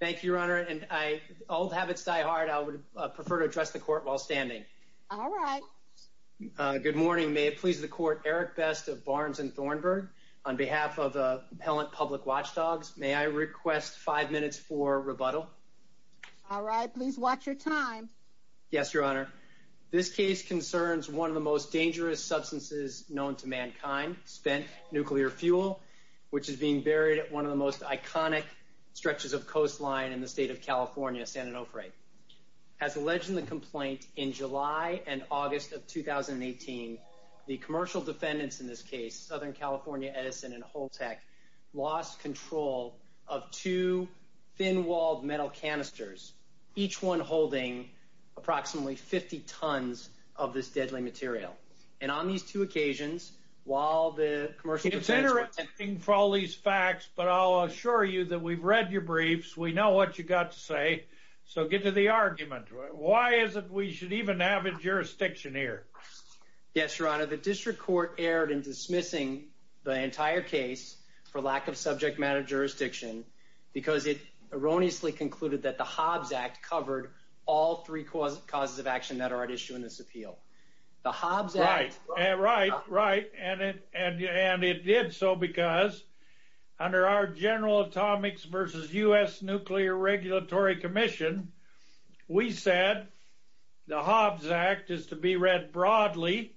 Thank you, Your Honor. And I old habits die hard. I would prefer to address the court while standing. All right. Good morning. May it please the court. Eric Best of Barnes and Thornburg on behalf of the public watchdogs. May I request five minutes for rebuttal? All right. Please watch your time. Yes, Your Honor. This case concerns one of the most dangerous substances known to mankind spent nuclear fuel, which is being buried at one of the most iconic stretches of coastline in the state of California, San Onofre. As alleged in the complaint in July and August of 2018, the commercial defendants in this case, Southern California Edison and Holtec, lost control of two thin walled metal canisters, each one holding approximately 50 tons of this deadly material. And on these two occasions, while the commercial it's interesting for all these facts, but I'll assure you that we've read your briefs. We know what you got to say. So get to the argument. Why is it we should even have a jurisdiction here? Yes, Your Honor. The district court erred in dismissing the entire case for lack of subject matter jurisdiction because it erroneously concluded that the Hobbs Act covered all three causes of action that are at issue in this appeal. The Hobbs Act. Right, right. And it did so because under our General Atomics versus U.S. Nuclear Regulatory Commission, we said the Hobbs Act is to be read broadly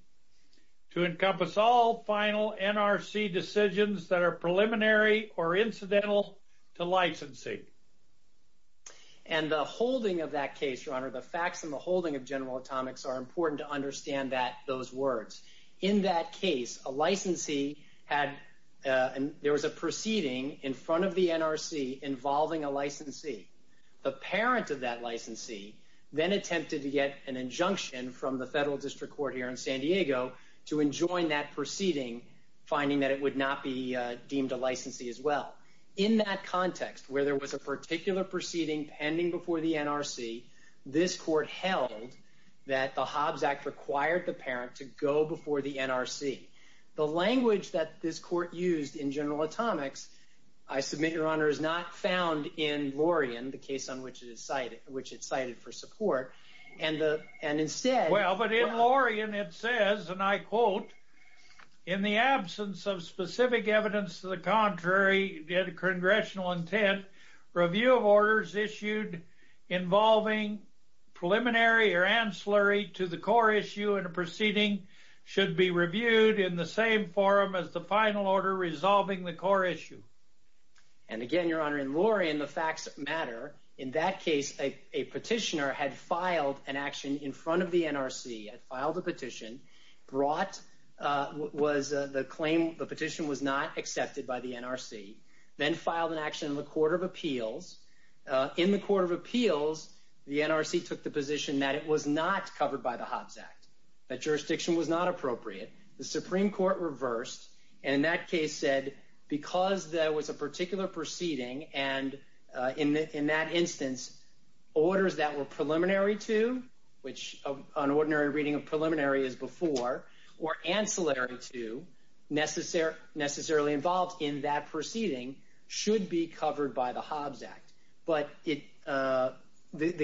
to encompass all final NRC decisions that are preliminary or incidental to licensing. And the holding of that case, Your Honor, the facts and the holding of General Atomics are important to understand that those words. In that case, a licensee had and there was a proceeding in front of the NRC involving a licensee. The parent of that licensee then attempted to get an injunction from the Federal District Court here in San Diego to enjoin that proceeding, finding that it would not be deemed a licensee as well. In that context, where there was a particular proceeding pending before the NRC, this court held that the Hobbs Act required the parent to go before the NRC. The language that this court used in General Atomics, I submit, Your Honor, is not found in Lorien, the case on which it is cited, which it cited for support. And instead. Well, but in Lorien it says, and I quote, in the absence of specific evidence to the contrary, congressional intent, review of orders issued involving preliminary or ancillary to the core issue in a proceeding should be reviewed in the same forum as the final order resolving the core issue. And again, Your Honor, in Lorien, the facts matter. In that case, a petitioner had filed an action in front of the NRC, had filed a petition, brought, was the claim, the petition was not accepted by the NRC, then filed an action in the Court of Appeals. In the Court of Appeals, the NRC took the position that it was not covered by the Hobbs Act, that jurisdiction was not appropriate. The Supreme Court reversed. And in that case said, because there was a particular proceeding, and in that instance, orders that were preliminary to, which an ordinary reading of preliminary is before, or ancillary to, necessarily involved in that proceeding should be covered by the Hobbs Act. But the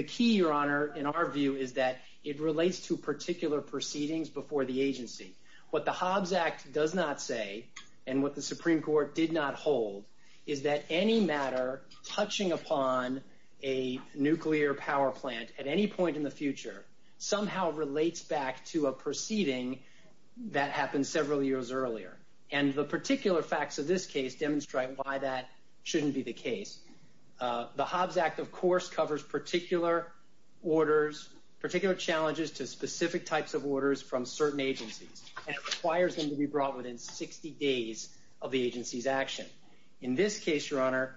key, Your Honor, in our view, is that it relates to particular proceedings before the agency. What the Hobbs Act does not say, and what the Supreme Court did not hold, is that any matter touching upon a nuclear power plant at any point in the future somehow relates back to a proceeding that happened several years earlier. And the particular facts of this case demonstrate why that shouldn't be the case. The Hobbs Act, of course, covers particular orders, particular challenges to specific types of orders from certain agencies. And it requires them to be brought within 60 days of the agency's action. In this case, Your Honor,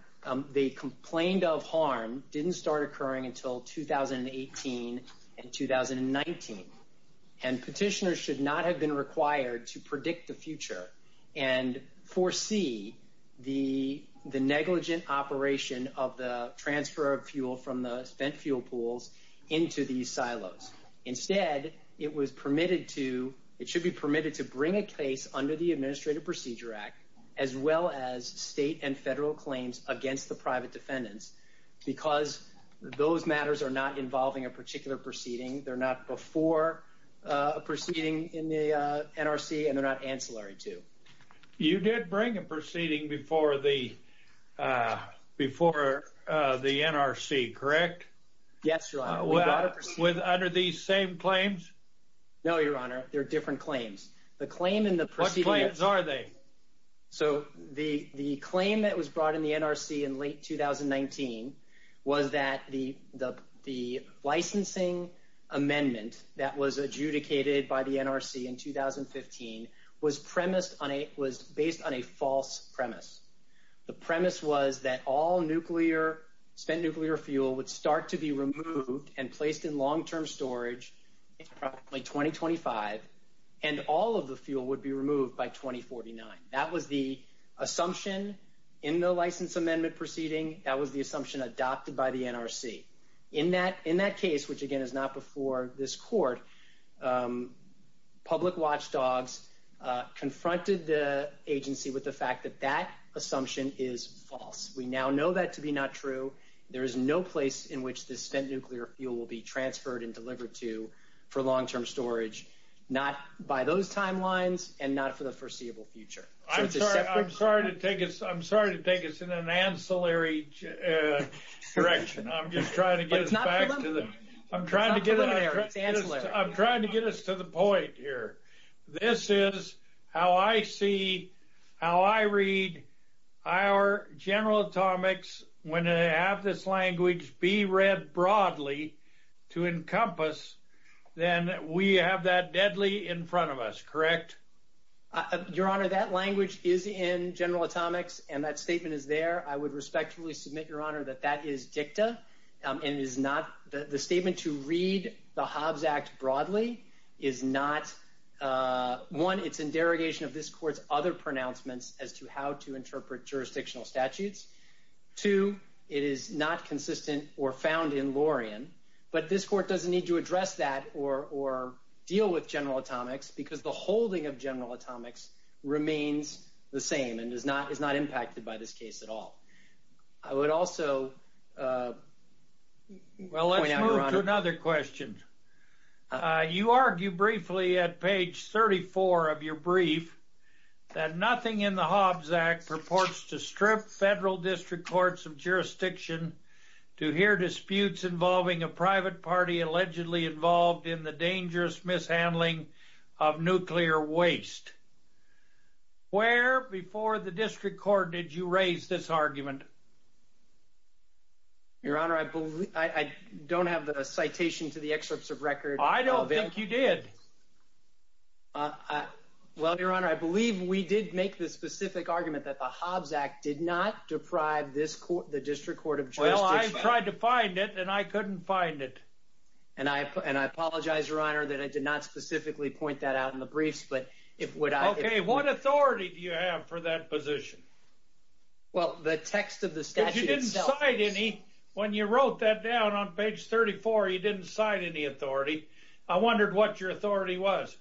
the complaint of harm didn't start occurring until 2018 and 2019. And petitioners should not have been required to predict the future and foresee the negligent operation of the transfer of fuel from the spent fuel pools into these silos. Instead, it was permitted to, it should be permitted to bring a case under the Administrative Procedure Act, as well as state and federal claims against the private defendants, because those matters are not involving a particular proceeding. They're not before a proceeding in the NRC, and they're not ancillary to. You did bring a proceeding before the NRC, correct? Yes, Your Honor. Under these same claims? No, Your Honor, they're different claims. What claims are they? So the claim that was brought in the NRC in late 2019 was that the licensing amendment that was adjudicated by the NRC in 2015 was based on a false premise. The premise was that all spent nuclear fuel would start to be removed and placed in long-term storage in approximately 2025, and all of the fuel would be removed by 2049. That was the assumption in the license amendment proceeding. That was the assumption adopted by the NRC. In that case, which again is not before this court, public watchdogs confronted the agency with the fact that that assumption is true. There is no place in which this spent nuclear fuel will be transferred and delivered to for long-term storage, not by those timelines, and not for the foreseeable future. I'm sorry to take us in an ancillary direction. I'm just trying to get us back to the point here. This is how I see, how I read our General Atomics. When I have this language be read broadly to encompass, then we have that deadly in front of us, correct? Your Honor, that language is in General Atomics, and that statement is there. I would respectfully submit, Your Honor, that that is dicta. The statement to read the Hobbs Act broadly is not, one, it's in derogation of this court's other pronouncements as to how to interpret jurisdictional statutes. Two, it is not consistent or found in Laurian, but this court doesn't need to address that or deal with General Atomics because the holding of General Atomics remains the same and is not impacted by this case at all. I would also point out, Your Honor- You argue briefly at page 34 of your brief that nothing in the Hobbs Act purports to strip federal district courts of jurisdiction to hear disputes involving a private party allegedly involved in the dangerous mishandling of nuclear waste. Where before the district court did you raise this argument? Your Honor, I don't have the citation to the excerpts of record. I don't think you did. Well, Your Honor, I believe we did make the specific argument that the Hobbs Act did not deprive the district court of jurisdiction. Well, I tried to find it and I couldn't find it. And I apologize, Your Honor, that I did not specifically point that out in the briefs, but if what I- Okay, what authority do you have for that position? Well, the text of the I wondered what your authority was.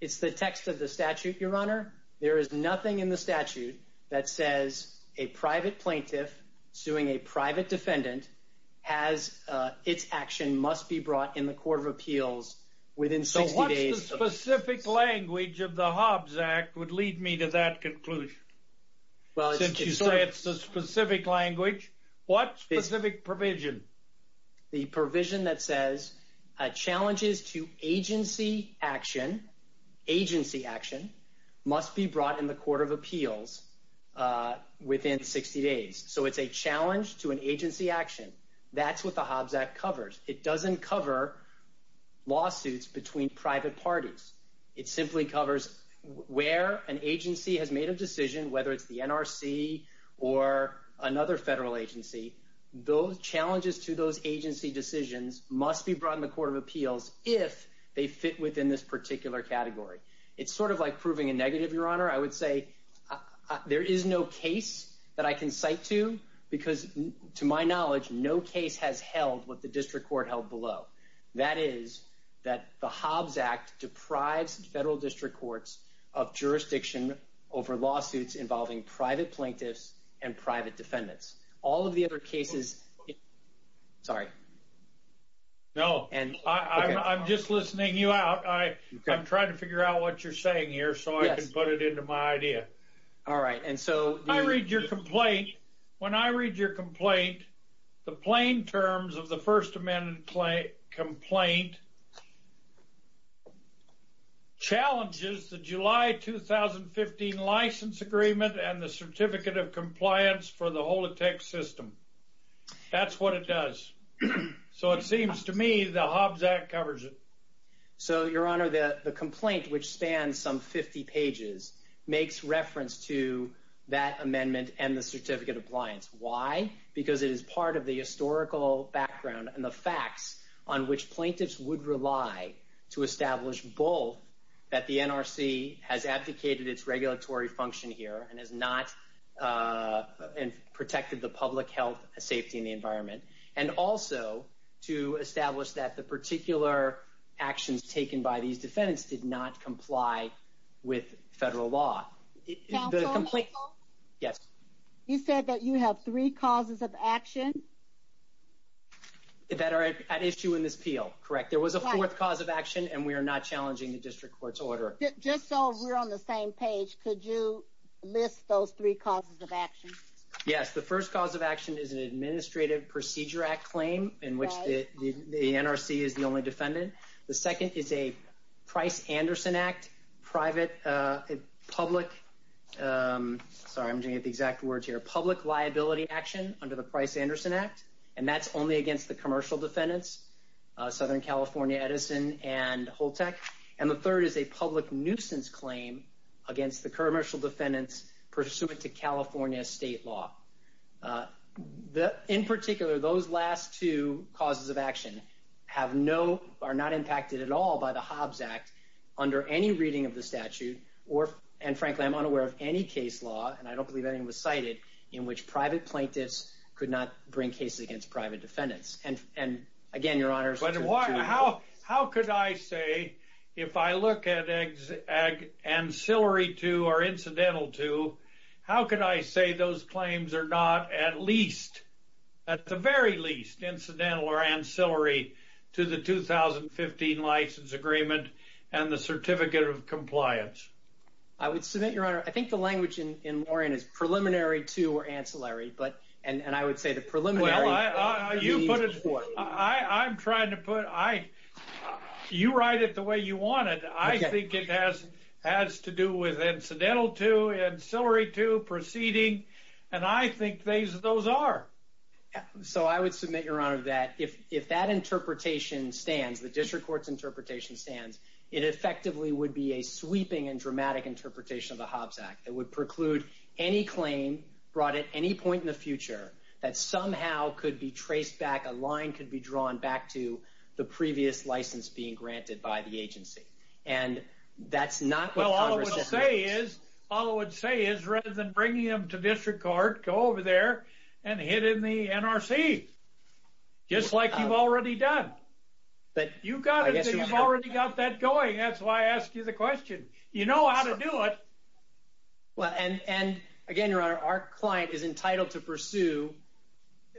It's the text of the statute, Your Honor. There is nothing in the statute that says a private plaintiff suing a private defendant has its action must be brought in the court of appeals within 60 days- So what's the specific language of the Hobbs Act would lead me to that conclusion? Well, it's- Since you say it's the provision. The provision that says challenges to agency action, agency action must be brought in the court of appeals within 60 days. So it's a challenge to an agency action. That's what the Hobbs Act covers. It doesn't cover lawsuits between private parties. It simply covers where an agency has made a decision, whether it's the NRC or another federal agency, those challenges to those agency decisions must be brought in the court of appeals if they fit within this particular category. It's sort of like proving a negative, Your Honor. I would say there is no case that I can cite to because to my knowledge, no case has held what the district court held below. That is that the Hobbs Act deprives federal district courts of jurisdiction over lawsuits involving private plaintiffs and private defendants. All of the other cases- Sorry. No. I'm just listening you out. I'm trying to figure out what you're saying here so I can put it into my idea. All right. And so- I read your complaint. When I read your complaint, the plain terms of the First Amendment complaint challenges the July 2015 License Agreement and the Certificate of Compliance for the Holotech system. That's what it does. So it seems to me the Hobbs Act covers it. So, Your Honor, the complaint, which spans some 50 pages, makes reference to that amendment and the Certificate Appliance. Why? Because it is part of the historical background and the facts on which plaintiffs would rely to establish both that the NRC has abdicated its regulatory function here and has not protected the public health safety and the environment, and also to establish that the particular actions taken by these defendants did not comply with federal law. Counsel? Yes. You said that you have three causes of action? That are at issue in this appeal. Correct. There was a fourth cause of action and we are not challenging the district court's order. Just so we're on the same page, could you list those three causes of action? Yes. The first cause of action is an Administrative Procedure Act claim in which the NRC is the only defendant. The second is a Price-Anderson Act private, public, sorry, I'm getting the exact words here, public liability action under the Price-Anderson Act, and that's only against the commercial defendants, Southern California, Edison, and Holtec. And the third is a public nuisance claim against the commercial defendants pursuant to California state law. In particular, those last two causes of action have no, are not impacted at all by the Hobbs Act under any reading of the statute or, and frankly, I'm unaware of any case law, and I don't believe anything was cited, in which private plaintiffs could not bring cases against private defendants. And again, your honors. How could I say, if I look at ancillary to or incidental to, how could I say those claims are at least, at the very least, incidental or ancillary to the 2015 License Agreement and the Certificate of Compliance? I would submit, your honor, I think the language in Lorien is preliminary to or ancillary, but, and I would say the preliminary... Well, I'm trying to put, you write it the way you want it. I think it has to do with incidental to, ancillary to, proceeding, and I think those are. So I would submit, your honor, that if that interpretation stands, the district court's interpretation stands, it effectively would be a sweeping and dramatic interpretation of the Hobbs Act that would preclude any claim brought at any point in the future that somehow could be traced back, a line could be drawn back to the previous license being granted by the agency. And that's not what Congress... Well, all I would say is, rather than bringing them to district court, go over there and hit in the NRC, just like you've already done. You've already got that going. That's why I asked you the question. You know how to do it. Well, and again, your honor, our client is entitled to pursue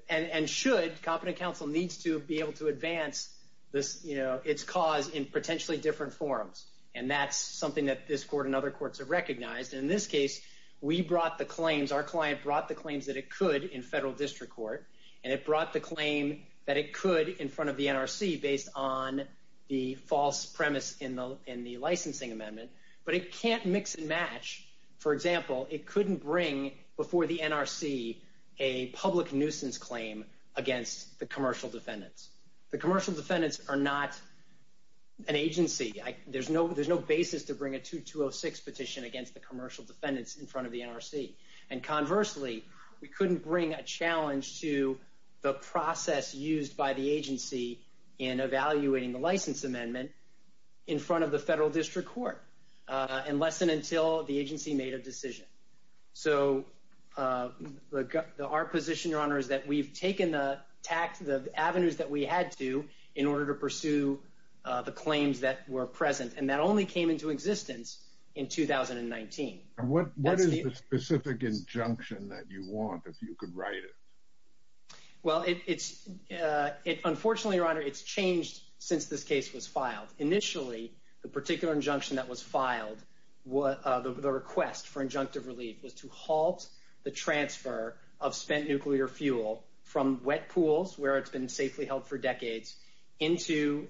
and should, competent counsel needs to be able to advance its cause in potentially different forms. And that's something that this court and other courts have recognized. In this case, we brought the claims, our client brought the claims that it could in federal district court, and it brought the claim that it could in front of the NRC based on the false premise in the licensing amendment, but it can't mix and match. For example, it couldn't bring before the NRC, a public nuisance claim against the commercial defendants. The commercial defendants are not an agency. There's no basis to bring a 2206 petition against the commercial defendants in front of the NRC. And conversely, we couldn't bring a challenge to the process used by the agency in evaluating the license amendment in front of the federal district court, unless and until the agency made a decision. So our position, your honor, is that we've taken the avenues that we had to in order to pursue the claims that were present. And that only came into existence in 2019. And what is the specific injunction that you want, if you could write it? Well, it's unfortunately, your honor, it's changed since this case was filed. Initially, the particular injunction that was filed, the request for injunctive relief was to halt the transfer of spent nuclear fuel from wet pools, where it's been safely held for decades, into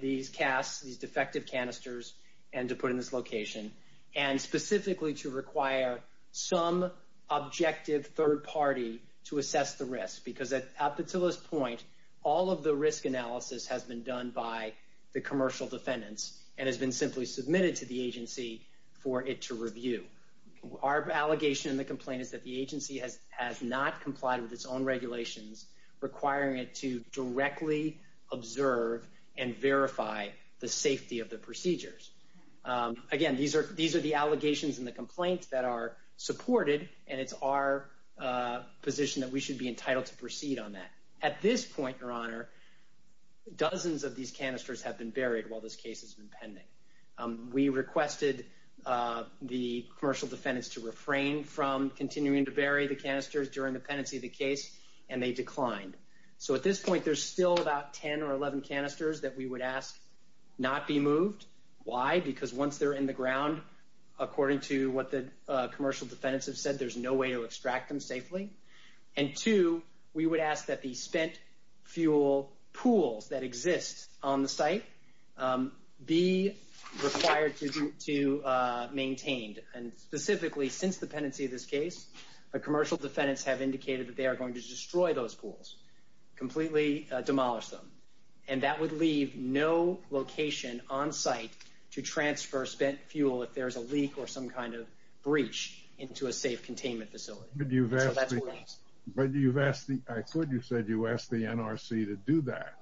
these casks, these defective canisters, and to put in this location. And specifically, to require some objective third party to assess the risk. Because up until this point, all of the risk analysis has been done by the commercial defendants and has been simply submitted to the agency for it to review. Our allegation in the complaint is that the agency has not complied with its own regulations, requiring it to directly observe and verify the safety of the procedures. Again, these are the allegations in the complaint that are supported, and it's our position that we should be entitled to proceed on that. At this point, your honor, dozens of these canisters have been buried while this case has been pending. We requested the commercial defendants to refrain from continuing to bury the canisters during the pendency of the case, and they declined. So at this point, there's still about 10 or 11 canisters that we would ask not be moved. Why? Because once they're in the ground, according to what the commercial defendants have said, there's no way to extract them safely. And two, we would ask that the spent fuel pools that exist on the site be required to maintain. And specifically, since the pendency of this case, the commercial defendants have indicated that they are going to destroy those pools, completely demolish them. And that would leave no location on site to transfer spent fuel if there's a leak or some kind of breach into a pool. I thought you said you asked the NRC to do that.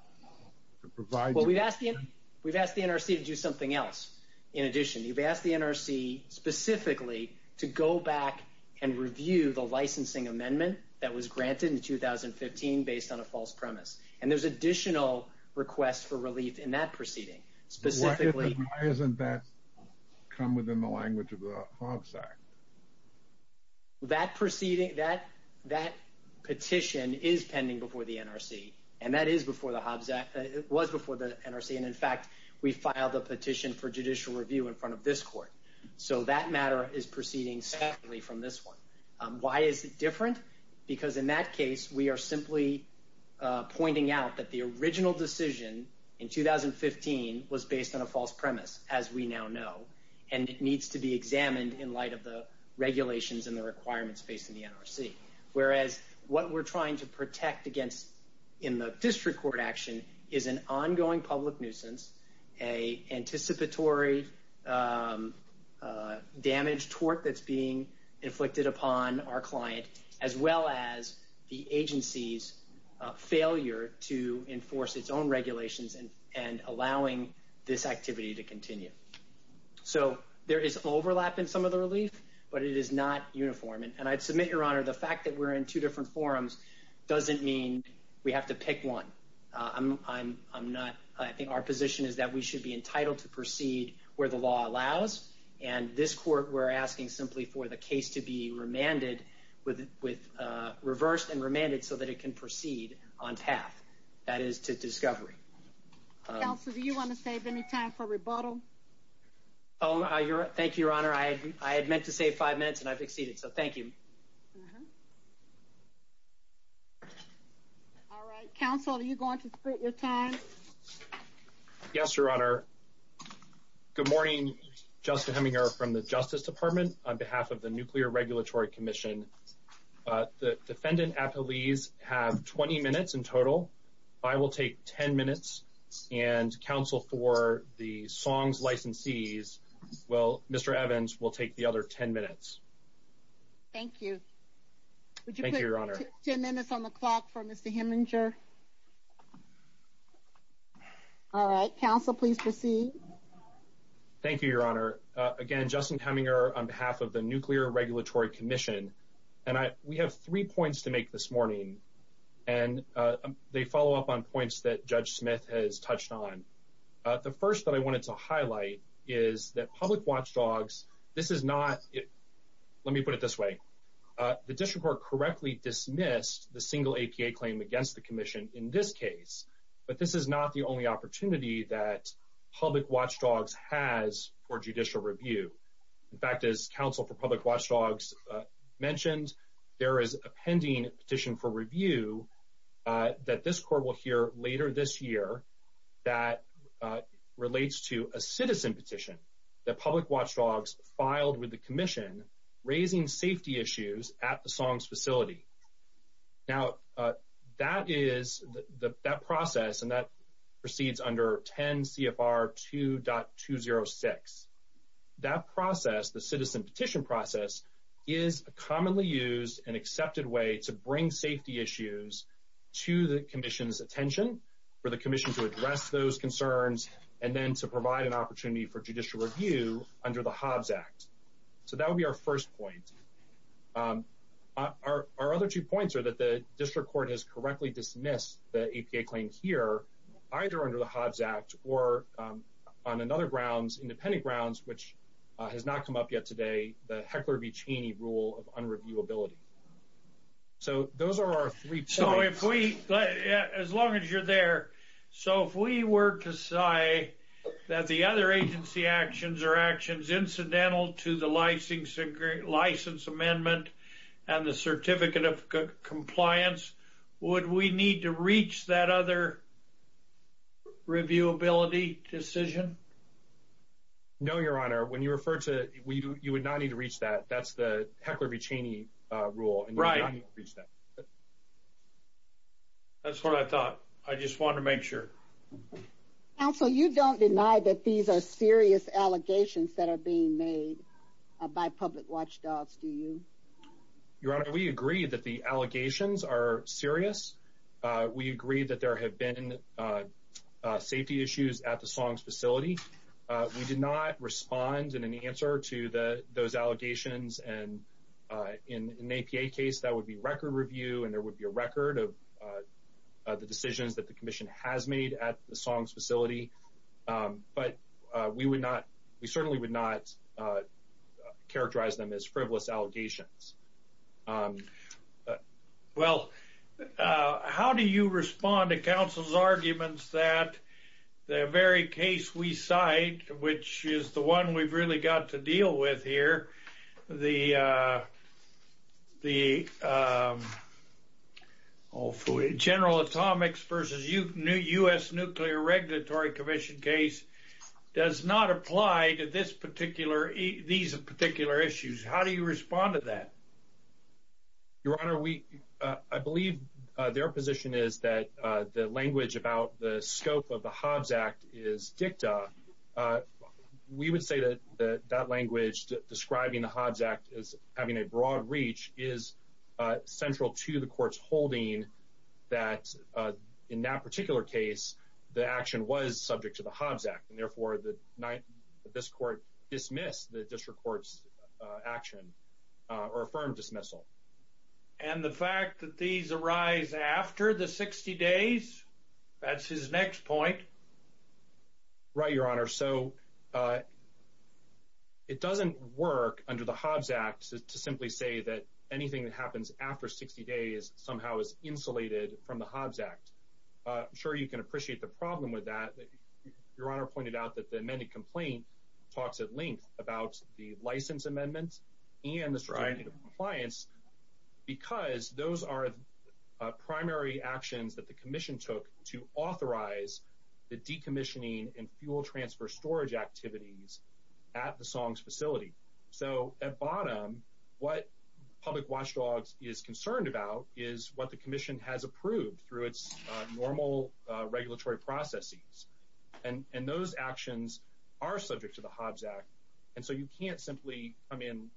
We've asked the NRC to do something else. In addition, you've asked the NRC specifically to go back and review the licensing amendment that was granted in 2015 based on a false premise. And there's additional requests for relief in that proceeding. Why hasn't that come within the language of the Hogsack? That petition is pending before the NRC. And that is before the Hogsack. It was before the NRC. And in fact, we filed a petition for judicial review in front of this court. So that matter is proceeding separately from this one. Why is it different? Because in that case, we are simply pointing out that the original decision in 2015 was based on a false premise, as we now know. And it needs to be examined in light of the regulations and the requirements facing the NRC. Whereas what we're trying to protect against in the district court action is an ongoing public nuisance, a anticipatory damage tort that's being inflicted upon our client, as well as the agency's failure to enforce its own regulations and allowing this activity to continue. So there is overlap in some of the relief, but it is not uniform. And I'd submit, Your Honor, the fact that we're in two different forums doesn't mean we have to pick one. I think our position is that we should be entitled to proceed where the law allows. And this court, we're asking simply for the case to be remanded with reversed and remanded so that it can proceed on path. That is to discovery. Counselor, do you want to save any time for rebuttal? Oh, thank you, Your Honor. I had meant to save five minutes and I've exceeded. So thank you. All right. Counselor, are you going to split your time? Yes, Your Honor. Good morning. Justin Heminger from the Justice Department on behalf of the Nuclear Regulatory Commission. The defendant, Apolise, have 20 minutes in total. I will take 10 minutes and counsel for the Song's licensees. Well, Mr. Evans will take the other 10 minutes. Thank you. Thank you, Your Honor. 10 minutes on the clock for Mr. Heminger. All right. Counsel, please proceed. Thank you, Your Honor. Again, Justin Heminger on behalf of the Nuclear Regulatory Commission. And we have three points to make this morning. And they follow up on points that Judge Smith has touched on. The first that I wanted to highlight is that public watchdogs, this is not it. Let me put it this way. The district court correctly dismissed the single APA claim against the commission in this case. But this is not the only opportunity that public watchdogs has for judicial review. In fact, as counsel for public watchdogs mentioned, there is a pending petition for review that this court will hear later this year that relates to a citizen petition that public watchdogs filed with the commission raising safety issues at the Song's facility. Now, that process, and that proceeds under 10 CFR 2.206. That process, the citizen petition process, is a commonly used and accepted way to bring safety issues to the commission's attention for the commission to address those concerns and then to provide an opportunity for judicial review under the Hobbs Act. So that would be our first point. Our other two points are that the district court has correctly dismissed the APA claim here, either under the Hobbs Act or on another grounds, independent grounds, which has not come up yet today, the Heckler v. Cheney rule of unreviewability. So those are our three points. So if we, as long as you're there, so if we were to say that the other agency actions incidental to the license amendment and the certificate of compliance, would we need to reach that other reviewability decision? No, your honor. When you refer to, you would not need to reach that. That's the Heckler v. Cheney rule. Right. That's what I thought. I just wanted to make sure that I got that right. Your honor, we agree that the allegations are serious. We agree that there have been safety issues at the Songs facility. We did not respond in any answer to those allegations. And in an APA case, that would be record review and there would be a record of the decisions that the commission has made at the Songs facility. We would not, we certainly would not characterize them as frivolous allegations. Well, how do you respond to Council's arguments that the very case we cite, which is the one we've got to deal with here, the General Atomics v. U.S. Nuclear Regulatory Commission case does not apply to these particular issues? How do you respond to that? Your honor, I believe their position is that the language about the scope of the Hobbs Act is dicta. We would say that that language describing the Hobbs Act as having a broad reach is central to the court's holding that in that particular case, the action was subject to the Hobbs Act. And therefore, this court dismissed the district court's action or affirmed dismissal. And the fact that these arise after the 60 days, that's his next point. Right, your honor. So, uh, it doesn't work under the Hobbs Act to simply say that anything that happens after 60 days somehow is insulated from the Hobbs Act. I'm sure you can appreciate the problem with that. Your honor pointed out that the amended complaint talks at length about the compliance because those are primary actions that the commission took to authorize the decommissioning and fuel transfer storage activities at the songs facility. So at bottom, what public watchdogs is concerned about is what the commission has approved through its normal regulatory processes. And those actions are subject to the Hobbs Act. And so you can't come in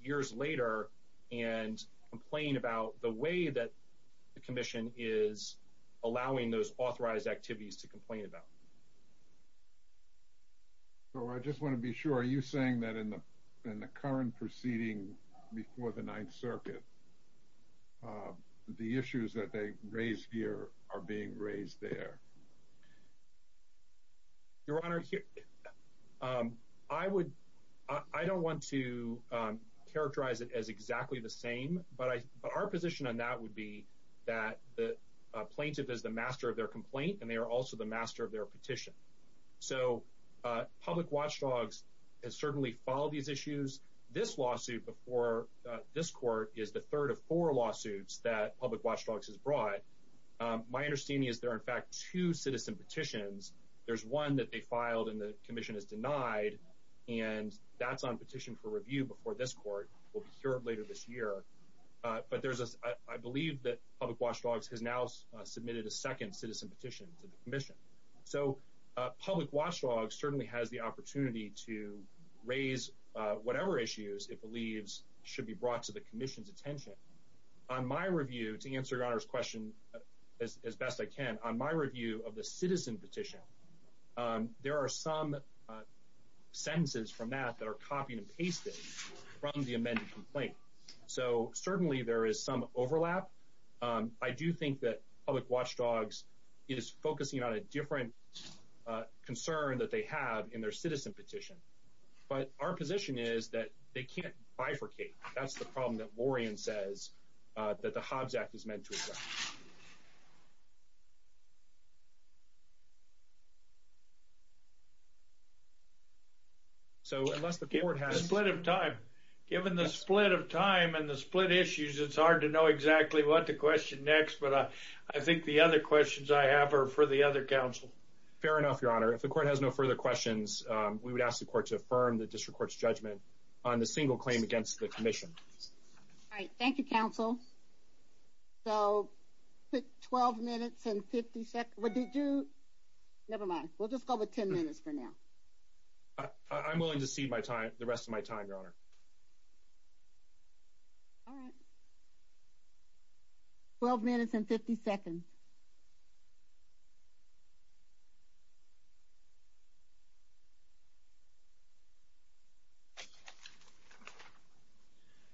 years later and complain about the way that the commission is allowing those authorized activities to complain about. So I just want to be sure, are you saying that in the current proceeding before the ninth circuit, the issues that they raised here are being raised there? Your honor, I would. I don't want to characterize it as exactly the same, but our position on that would be that the plaintiff is the master of their complaint, and they are also the master of their petition. So public watchdogs has certainly followed these issues. This lawsuit before this court is the third of four lawsuits that public watchdogs has brought. My understanding is there are in fact two citizen petitions. There's one that they filed and the commission has denied, and that's on petition for review before this court will be cured later this year. But there's a, I believe that public watchdogs has now submitted a second citizen petition to the commission. So public watchdogs certainly has the opportunity to raise whatever issues it believes should be brought to the commission's attention. On my review to answer your honor's question as best I can, on my review of the citizen petition, there are some sentences from that that are copied and pasted from the amended complaint. So certainly there is some overlap. I do think that public watchdogs is focusing on a different concern that they have in their citizen petition. But our position is that they can't bifurcate. That's the problem that says that the Hobbs Act is meant to address. So unless the court has a split of time, given the split of time and the split issues, it's hard to know exactly what to question next. But I think the other questions I have are for the other counsel. Fair enough, your honor. If the court has no further questions, we would ask the court to affirm the district court's judgment on the single claim against the commission. All right, thank you, counsel. So 12 minutes and 50 seconds. Never mind. We'll just go with 10 minutes for now. I'm willing to cede the rest of my time,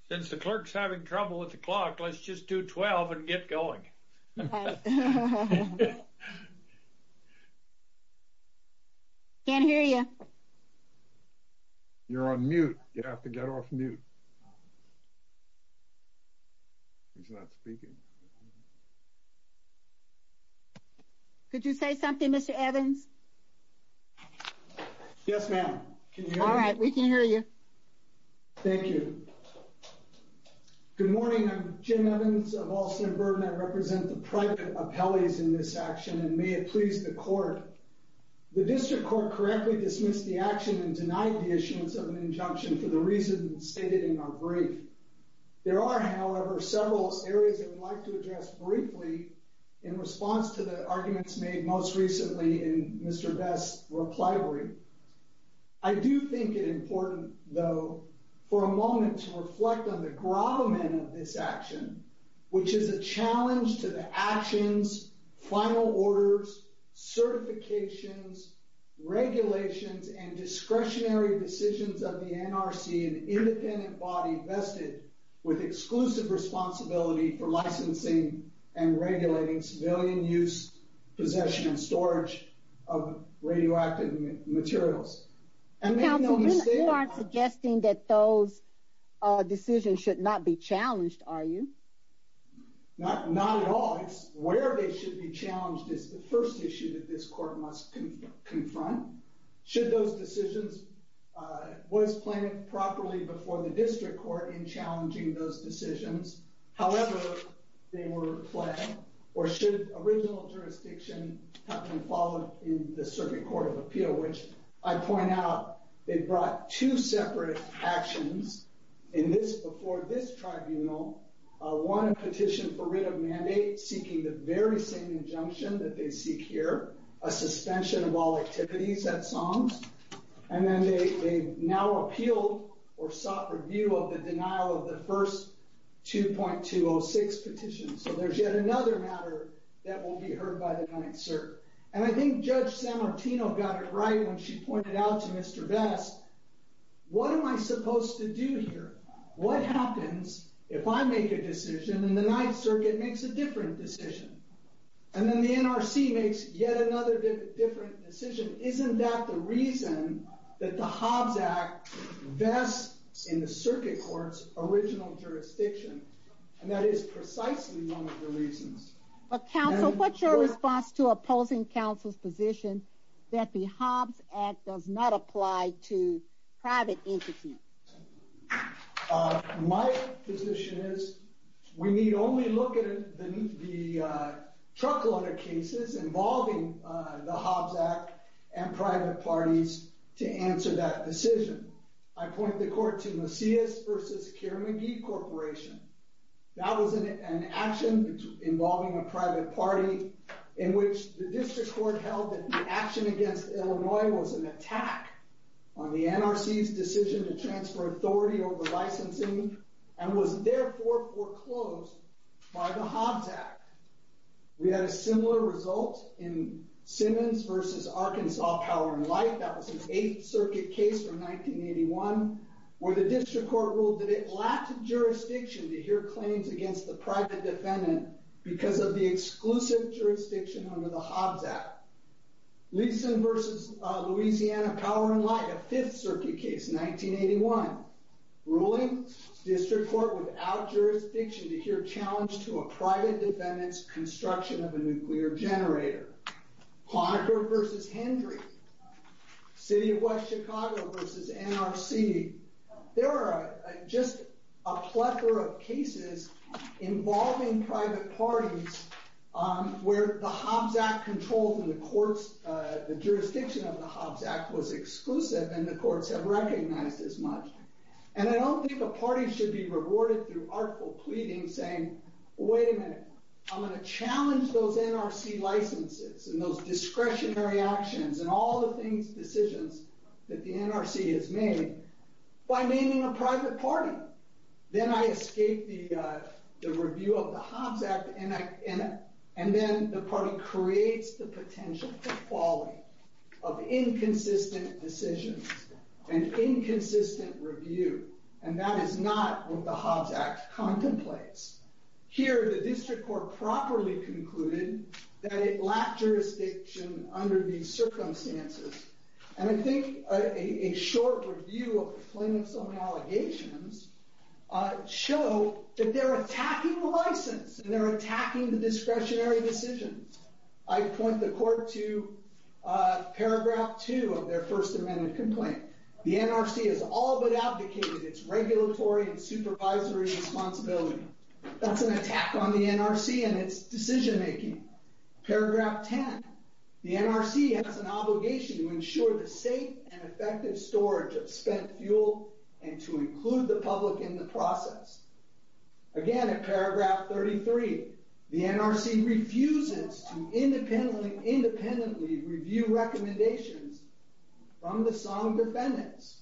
since the clerk's having trouble with the clock. Let's just do 12 and get going. Can't hear you. You're on mute. You have to get off mute. He's not speaking. Could you say something, Mr. Evans? Yes, ma'am. All right, we can hear you. Thank you. Good morning. I'm Jim Evans of Alston and Bourbon. I represent the private appellees in this action, and may it please the court. The district court correctly dismissed the action and denied the issuance of an injunction for the reasons stated in our brief. There are, however, several areas that we'd like to address briefly in response to the arguments made most recently in Mr. Best's reply brief. I do think it important, though, for a moment to reflect on the gravamen of this action, which is a challenge to the actions, final orders, certifications, regulations, and discretionary decisions of the NRC, an independent body vested with exclusive responsibility for licensing and regulating civilian use, possession, and storage of radioactive materials. You aren't suggesting that those decisions should not be challenged, are you? Not at all. It's where they should be challenged is the first issue that this court must confront. Should those decisions, was planned properly before the district court in challenging those decisions. However, they were fled, or should original jurisdiction have been followed in the circuit court of appeal, which I point out, they brought two separate actions in this, before this tribunal. One, a petition for writ of mandate seeking the very same injunction that they seek here, a suspension of all activities at songs, and then they now appeal or sought review of the denial of the first 2.206 petition. So there's yet another matter that will be heard by the Ninth Circuit. And I think Judge San Martino got it right when she pointed out to Mr. Best, what am I supposed to do here? What happens if I make a decision and the Ninth Circuit makes yet another decision? And then the NRC makes yet another different decision. Isn't that the reason that the Hobbs Act vests in the circuit court's original jurisdiction? And that is precisely one of the reasons. But counsel, what's your response to opposing counsel's position that the Hobbs Act does not apply to private entities? My position is we need only look at the truckload of cases involving the Hobbs Act and private parties to answer that decision. I point the court to Macias versus Keir McGee Corporation. That was an action involving a private party in which the district court held that the action against Illinois was an attack on the NRC's decision to transfer authority over licensing and was therefore foreclosed by the Hobbs Act. We had a similar result in Simmons versus Arkansas Power and Light. That was an Eighth Circuit case from 1981 where the district court ruled that it lacked jurisdiction to hear claims against the private defendant because of the exclusive jurisdiction under the Hobbs Act. Leeson versus Louisiana Power and Light, a Fifth Circuit case, 1981, ruling district court without jurisdiction to hear challenge to a private defendant's construction of a nuclear generator. Conacher versus Hendry, City of West Chicago versus NRC. There are just a plethora of cases involving private parties where the Hobbs Act control from the courts, the jurisdiction of the Hobbs Act was exclusive and the courts have recognized as much. And I don't think a party should be rewarded through artful pleading saying, wait a minute, I'm going to challenge those NRC licenses and those discretionary actions and all the things, decisions that the NRC has made by naming a private party. Then I escape the review of the Hobbs Act and then the party creates the potential for quality of inconsistent decisions and inconsistent review. And that is not what the Hobbs Act contemplates. Here the district court properly concluded that it lacked jurisdiction under these circumstances. And I think a short review of the claimant's own allegations show that they're attacking the license and they're attacking the discretionary decisions. I point the court to their first amendment complaint. The NRC has all but advocated its regulatory and supervisory responsibility. That's an attack on the NRC and its decision-making. Paragraph 10, the NRC has an obligation to ensure the safe and effective storage of spent fuel and to include the public in the process. Again, at paragraph 33, the NRC refuses to independently review recommendations from the sum of defendants.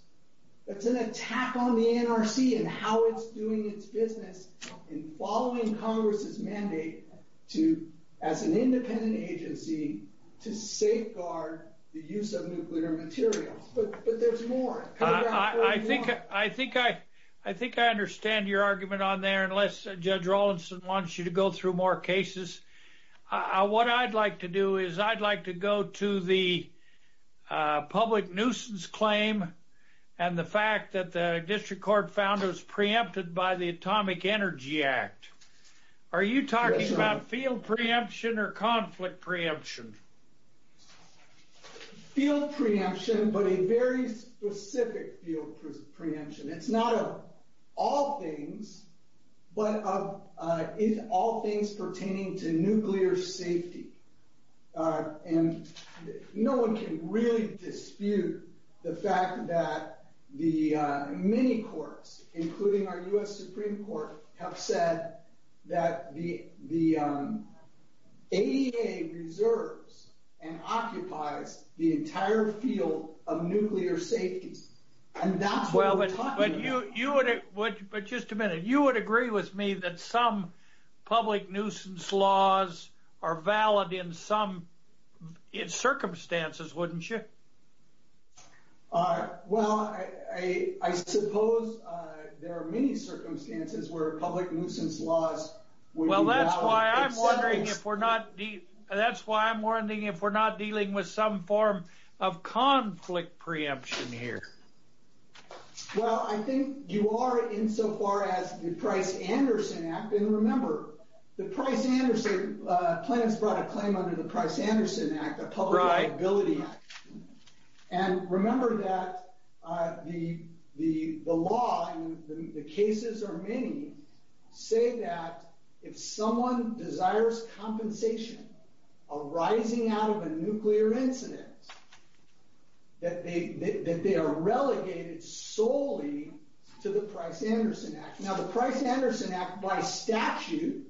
That's an attack on the NRC and how it's doing its business in following Congress's mandate to, as an independent agency, to safeguard the use of nuclear materials. But there's more. I think I understand your argument on there, unless Judge Rawlinson wants you to go through more cases. What I'd like to do is I'd like to go to the public nuisance claim and the fact that the district court found it was preempted by the Atomic Energy Act. Are you talking about field preemption or conflict preemption? Field preemption, but a very specific field preemption. It's not of all things, but of all things pertaining to nuclear safety. No one can really dispute the fact that the many courts, including our U.S. Supreme Court, have said that the ADA reserves and occupies the entire field of nuclear safety, and that's what we're talking about. But just a minute. You would agree with me that some public nuisance laws are valid in some circumstances, wouldn't you? Well, I suppose there are many circumstances where public nuisance laws would be valid. I'm wondering if we're not dealing with some form of conflict preemption here. Well, I think you are insofar as the Price-Anderson Act, and remember, the Price-Anderson Act, Plano's brought a claim under the Price-Anderson Act, a public liability act. And remember that the law, and the cases are many, say that if someone desires compensation arising out of a nuclear incident, that they are relegated solely to the Price-Anderson Act. Now, the Price-Anderson Act, by statute,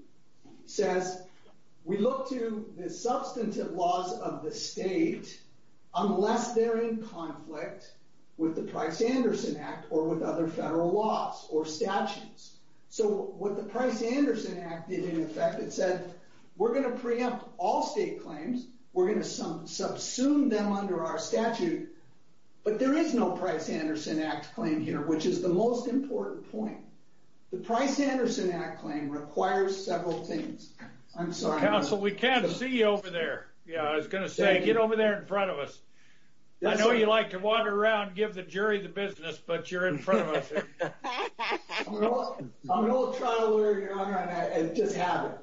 says we look to the substantive laws of the state unless they're in conflict with the Price-Anderson Act or with other federal laws or statutes. So what the Price-Anderson Act did in effect, it said, we're going to preempt all state claims. We're going to subsume them under our statute. But there is no Price-Anderson Act claim here, which is the most important point. The Price-Anderson Act claim requires several things. I'm sorry. Counsel, we can't see you over there. Yeah, I was going to say, get over there in front of us. I know you like to wander around, give the jury the business, but you're in front of us. I'm an old trial lawyer, Your Honor, and it just happened.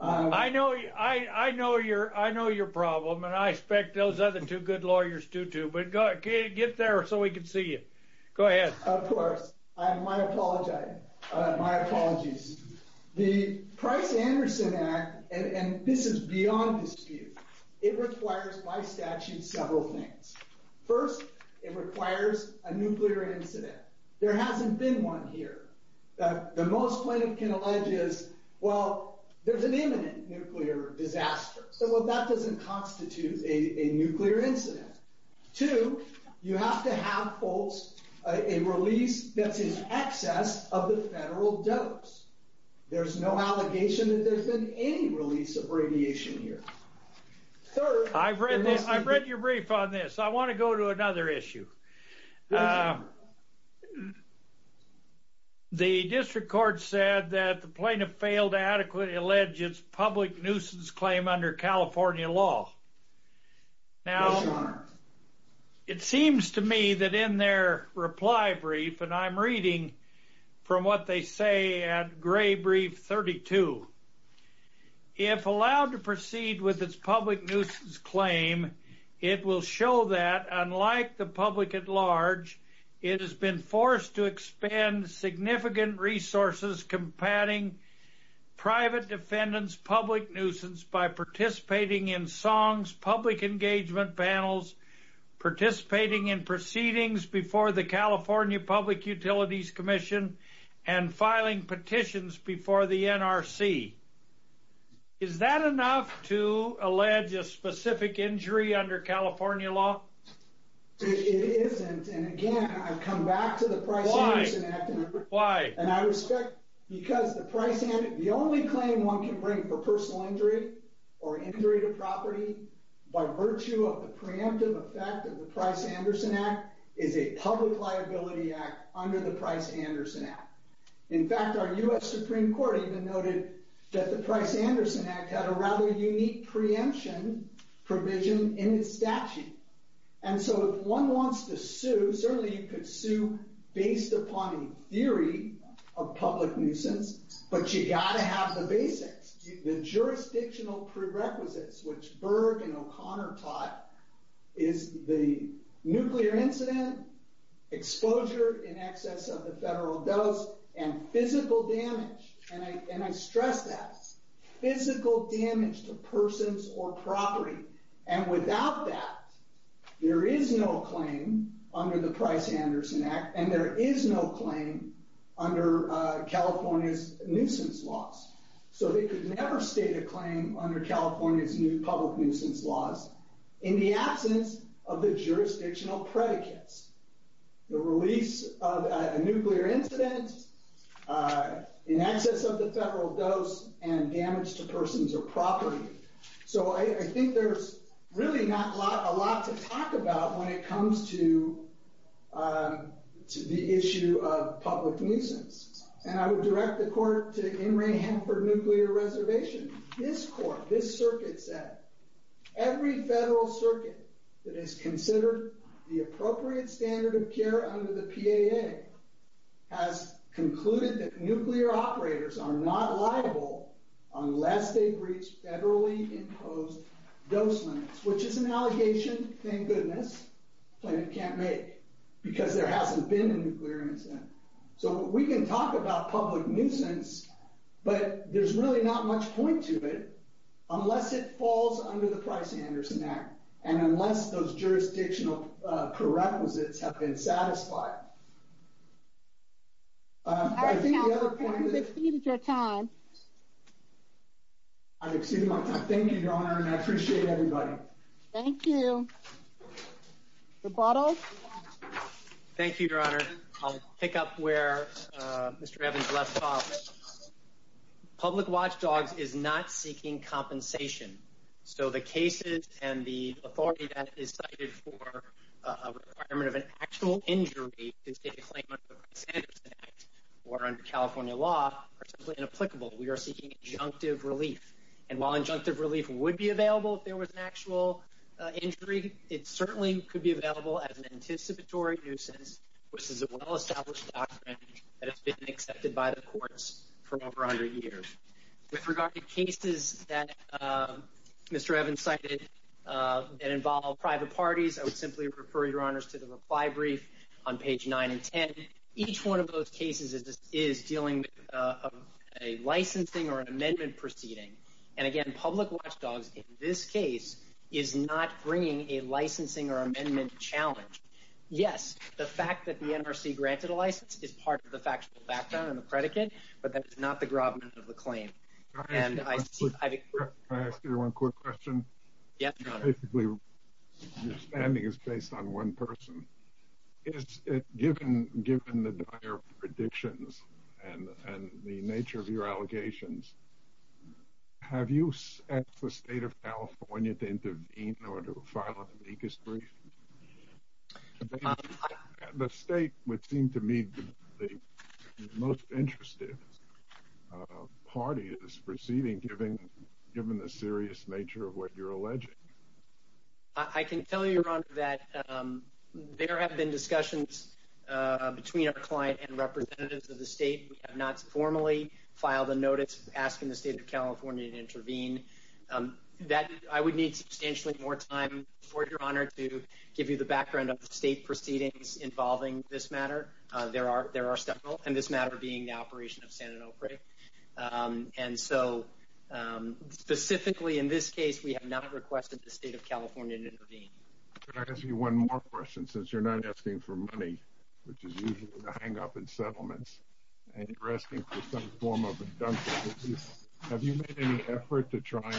I know your problem, and I expect those other two good lawyers do too, but get there so we can see you. Go ahead. Of course. My apologies. The Price-Anderson Act, and this is beyond dispute, it requires, by statute, several things. First, it requires a nuclear incident. There hasn't been one here. The most plaintiff can allege is, well, there's an imminent nuclear disaster. So that doesn't constitute a nuclear incident. Two, you have to have, folks, a release that's in excess of the federal dose. There's no allegation that there's been any release of radiation here. I've read your brief on this. I want to go to another issue. The district court said that the plaintiff failed to adequately allege its public nuisance claim under California law. Now, it seems to me that in their reply brief, and I'm reading from what they say at Gray Brief 32, if allowed to proceed with its public nuisance claim, it will show that, unlike the public at large, it has been forced to expend significant resources combating private defendants' public nuisance by participating in songs, public engagement panels, participating in proceedings before the California Public Utilities Commission, and filing petitions before the NRC. Is that enough to allege a specific injury under California law? It isn't. And again, I've come back to the Price-Anderson Act. Why? And I respect, because the only claim one can bring for personal injury or injury to property by virtue of the preemptive effect of the Price-Anderson Act is a public liability act under the Price-Anderson Act. In fact, our US Supreme Court even noted that the Price-Anderson Act had a rather unique preemption provision in the statute. And so if one wants to sue, certainly you could sue based upon a theory of public nuisance, but you've got to have the basics. The jurisdictional prerequisites, which Berg and O'Connor taught, is the nuclear incident, exposure in excess of the federal dose, and physical damage. And I stress that. Physical damage to persons or property. And without that, there is no claim under the Price-Anderson Act, and there is no claim under California's nuisance laws. So they could never state a claim under California's new public nuisance laws in the absence of the jurisdictional predicates. The release of a nuclear incident, in excess of the federal dose, and damage to persons or property. So I think there's really not a lot to talk about when it comes to the issue of public nuisance. And I would direct the court to In re Hamford Nuclear Reservation. This court, this circuit said, every federal circuit that has considered the appropriate standard of care under the PAA has concluded that nuclear operators are not liable unless they reach federally imposed dose limits, which is an allegation, thank goodness, the plaintiff can't make, because there hasn't been a nuclear incident. So we can talk about public nuisance, but there's really not much point to it unless it falls under the Price-Anderson Act, and unless those jurisdictional prerequisites have been satisfied. I think the other point is, I've exceeded your time. I've exceeded my time. Thank you, Your Honor, and I appreciate everybody. Thank you. Thank you, Your Honor. I'll pick up where Mr. Evans left off. Public watchdogs is not seeking compensation. So the cases and the authority that is cited for a requirement of an actual injury to state a claim under the Price-Anderson Act, or under California law, are simply inapplicable. We are seeking injunctive relief. And while injunctive relief would be available if there was an actual injury, it certainly could be available as an anticipatory nuisance, which is a well-established doctrine that has been accepted by the courts for over 100 years. With regard to cases that Mr. Evans cited that involve private parties, I would simply refer Your Honors to the reply brief on page 9 and 10. Each one of those cases is dealing with a licensing or an amendment proceeding. And again, public watchdogs in this case is not bringing a licensing or amendment challenge. Yes, the fact that the NRC granted a license is part of the factual background and the predicate, but that is not the grommet of the claim. Can I ask you one quick question? Yes, Your Honor. Basically, your standing is based on one person. Given the dire predictions and the nature of your case, the state would seem to me the most interested party in this proceeding, given the serious nature of what you're alleging. I can tell you, Your Honor, that there have been discussions between our client and representatives of the state. We have not formally filed a notice asking the state of California to intervene. I would need substantially more time for Your Honor to give you the background of the state proceedings involving this matter. There are several, and this matter being the operation of San Onofre. And so, specifically in this case, we have not requested the state of California to intervene. Can I ask you one more question? Since you're not asking for money, which is usually the hang-up in settlements, and you're asking for some form of deduction, have you made any effort to try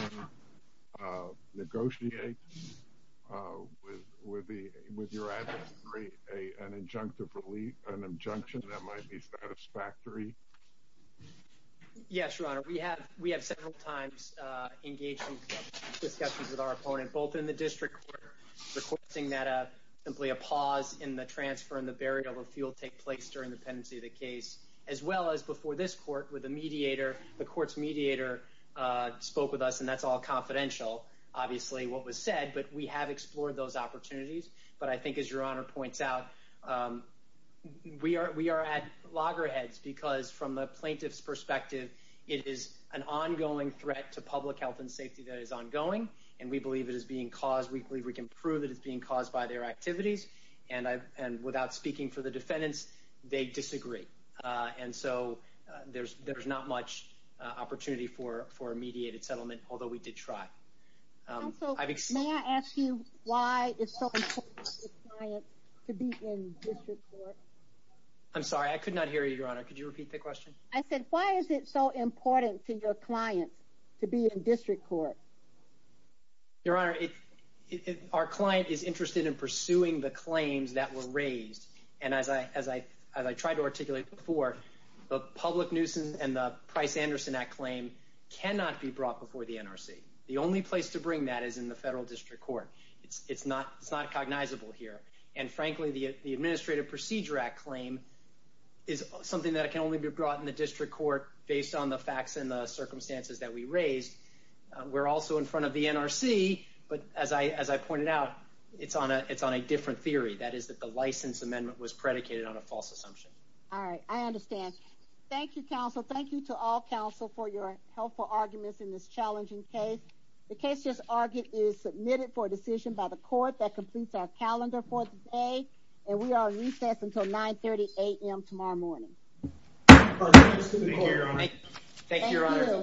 and negotiate with your adversary an injunction that might be satisfactory? Yes, Your Honor. We have several times engaged in discussions with our opponent, both in the district court requesting that simply a pause in the transfer and the burial of fuel take place during the pendency of the case, as well as before this court with a mediator. The court's mediator spoke with us, and that's all confidential, obviously, what was said, but we have explored those opportunities. But I think, as Your Honor points out, we are at loggerheads because, from a plaintiff's perspective, it is an ongoing threat to public health and safety that is ongoing, and we believe it is being caused. We believe we can prove that it's being caused by their activities, and without speaking for the defendants, they disagree. And so, there's not much opportunity for a mediated settlement, although we did try. May I ask you why it's so important to your client to be in district court? I'm sorry, I could not hear you, Your Honor. Could you repeat the question? I said, why is it so important to your client to be in district court? Well, Your Honor, our client is interested in pursuing the claims that were raised, and as I tried to articulate before, the public nuisance and the Price-Anderson Act claim cannot be brought before the NRC. The only place to bring that is in the federal district court. It's not cognizable here, and frankly, the Administrative Procedure Act claim is something that can only be brought in the district court based on the facts and the NRC, but as I pointed out, it's on a different theory. That is that the license amendment was predicated on a false assumption. All right, I understand. Thank you, counsel. Thank you to all counsel for your helpful arguments in this challenging case. The case just argued is submitted for decision by the court that completes our calendar for today, and we are on recess until 9.30 a.m. tomorrow morning. Thank you, Your Honor.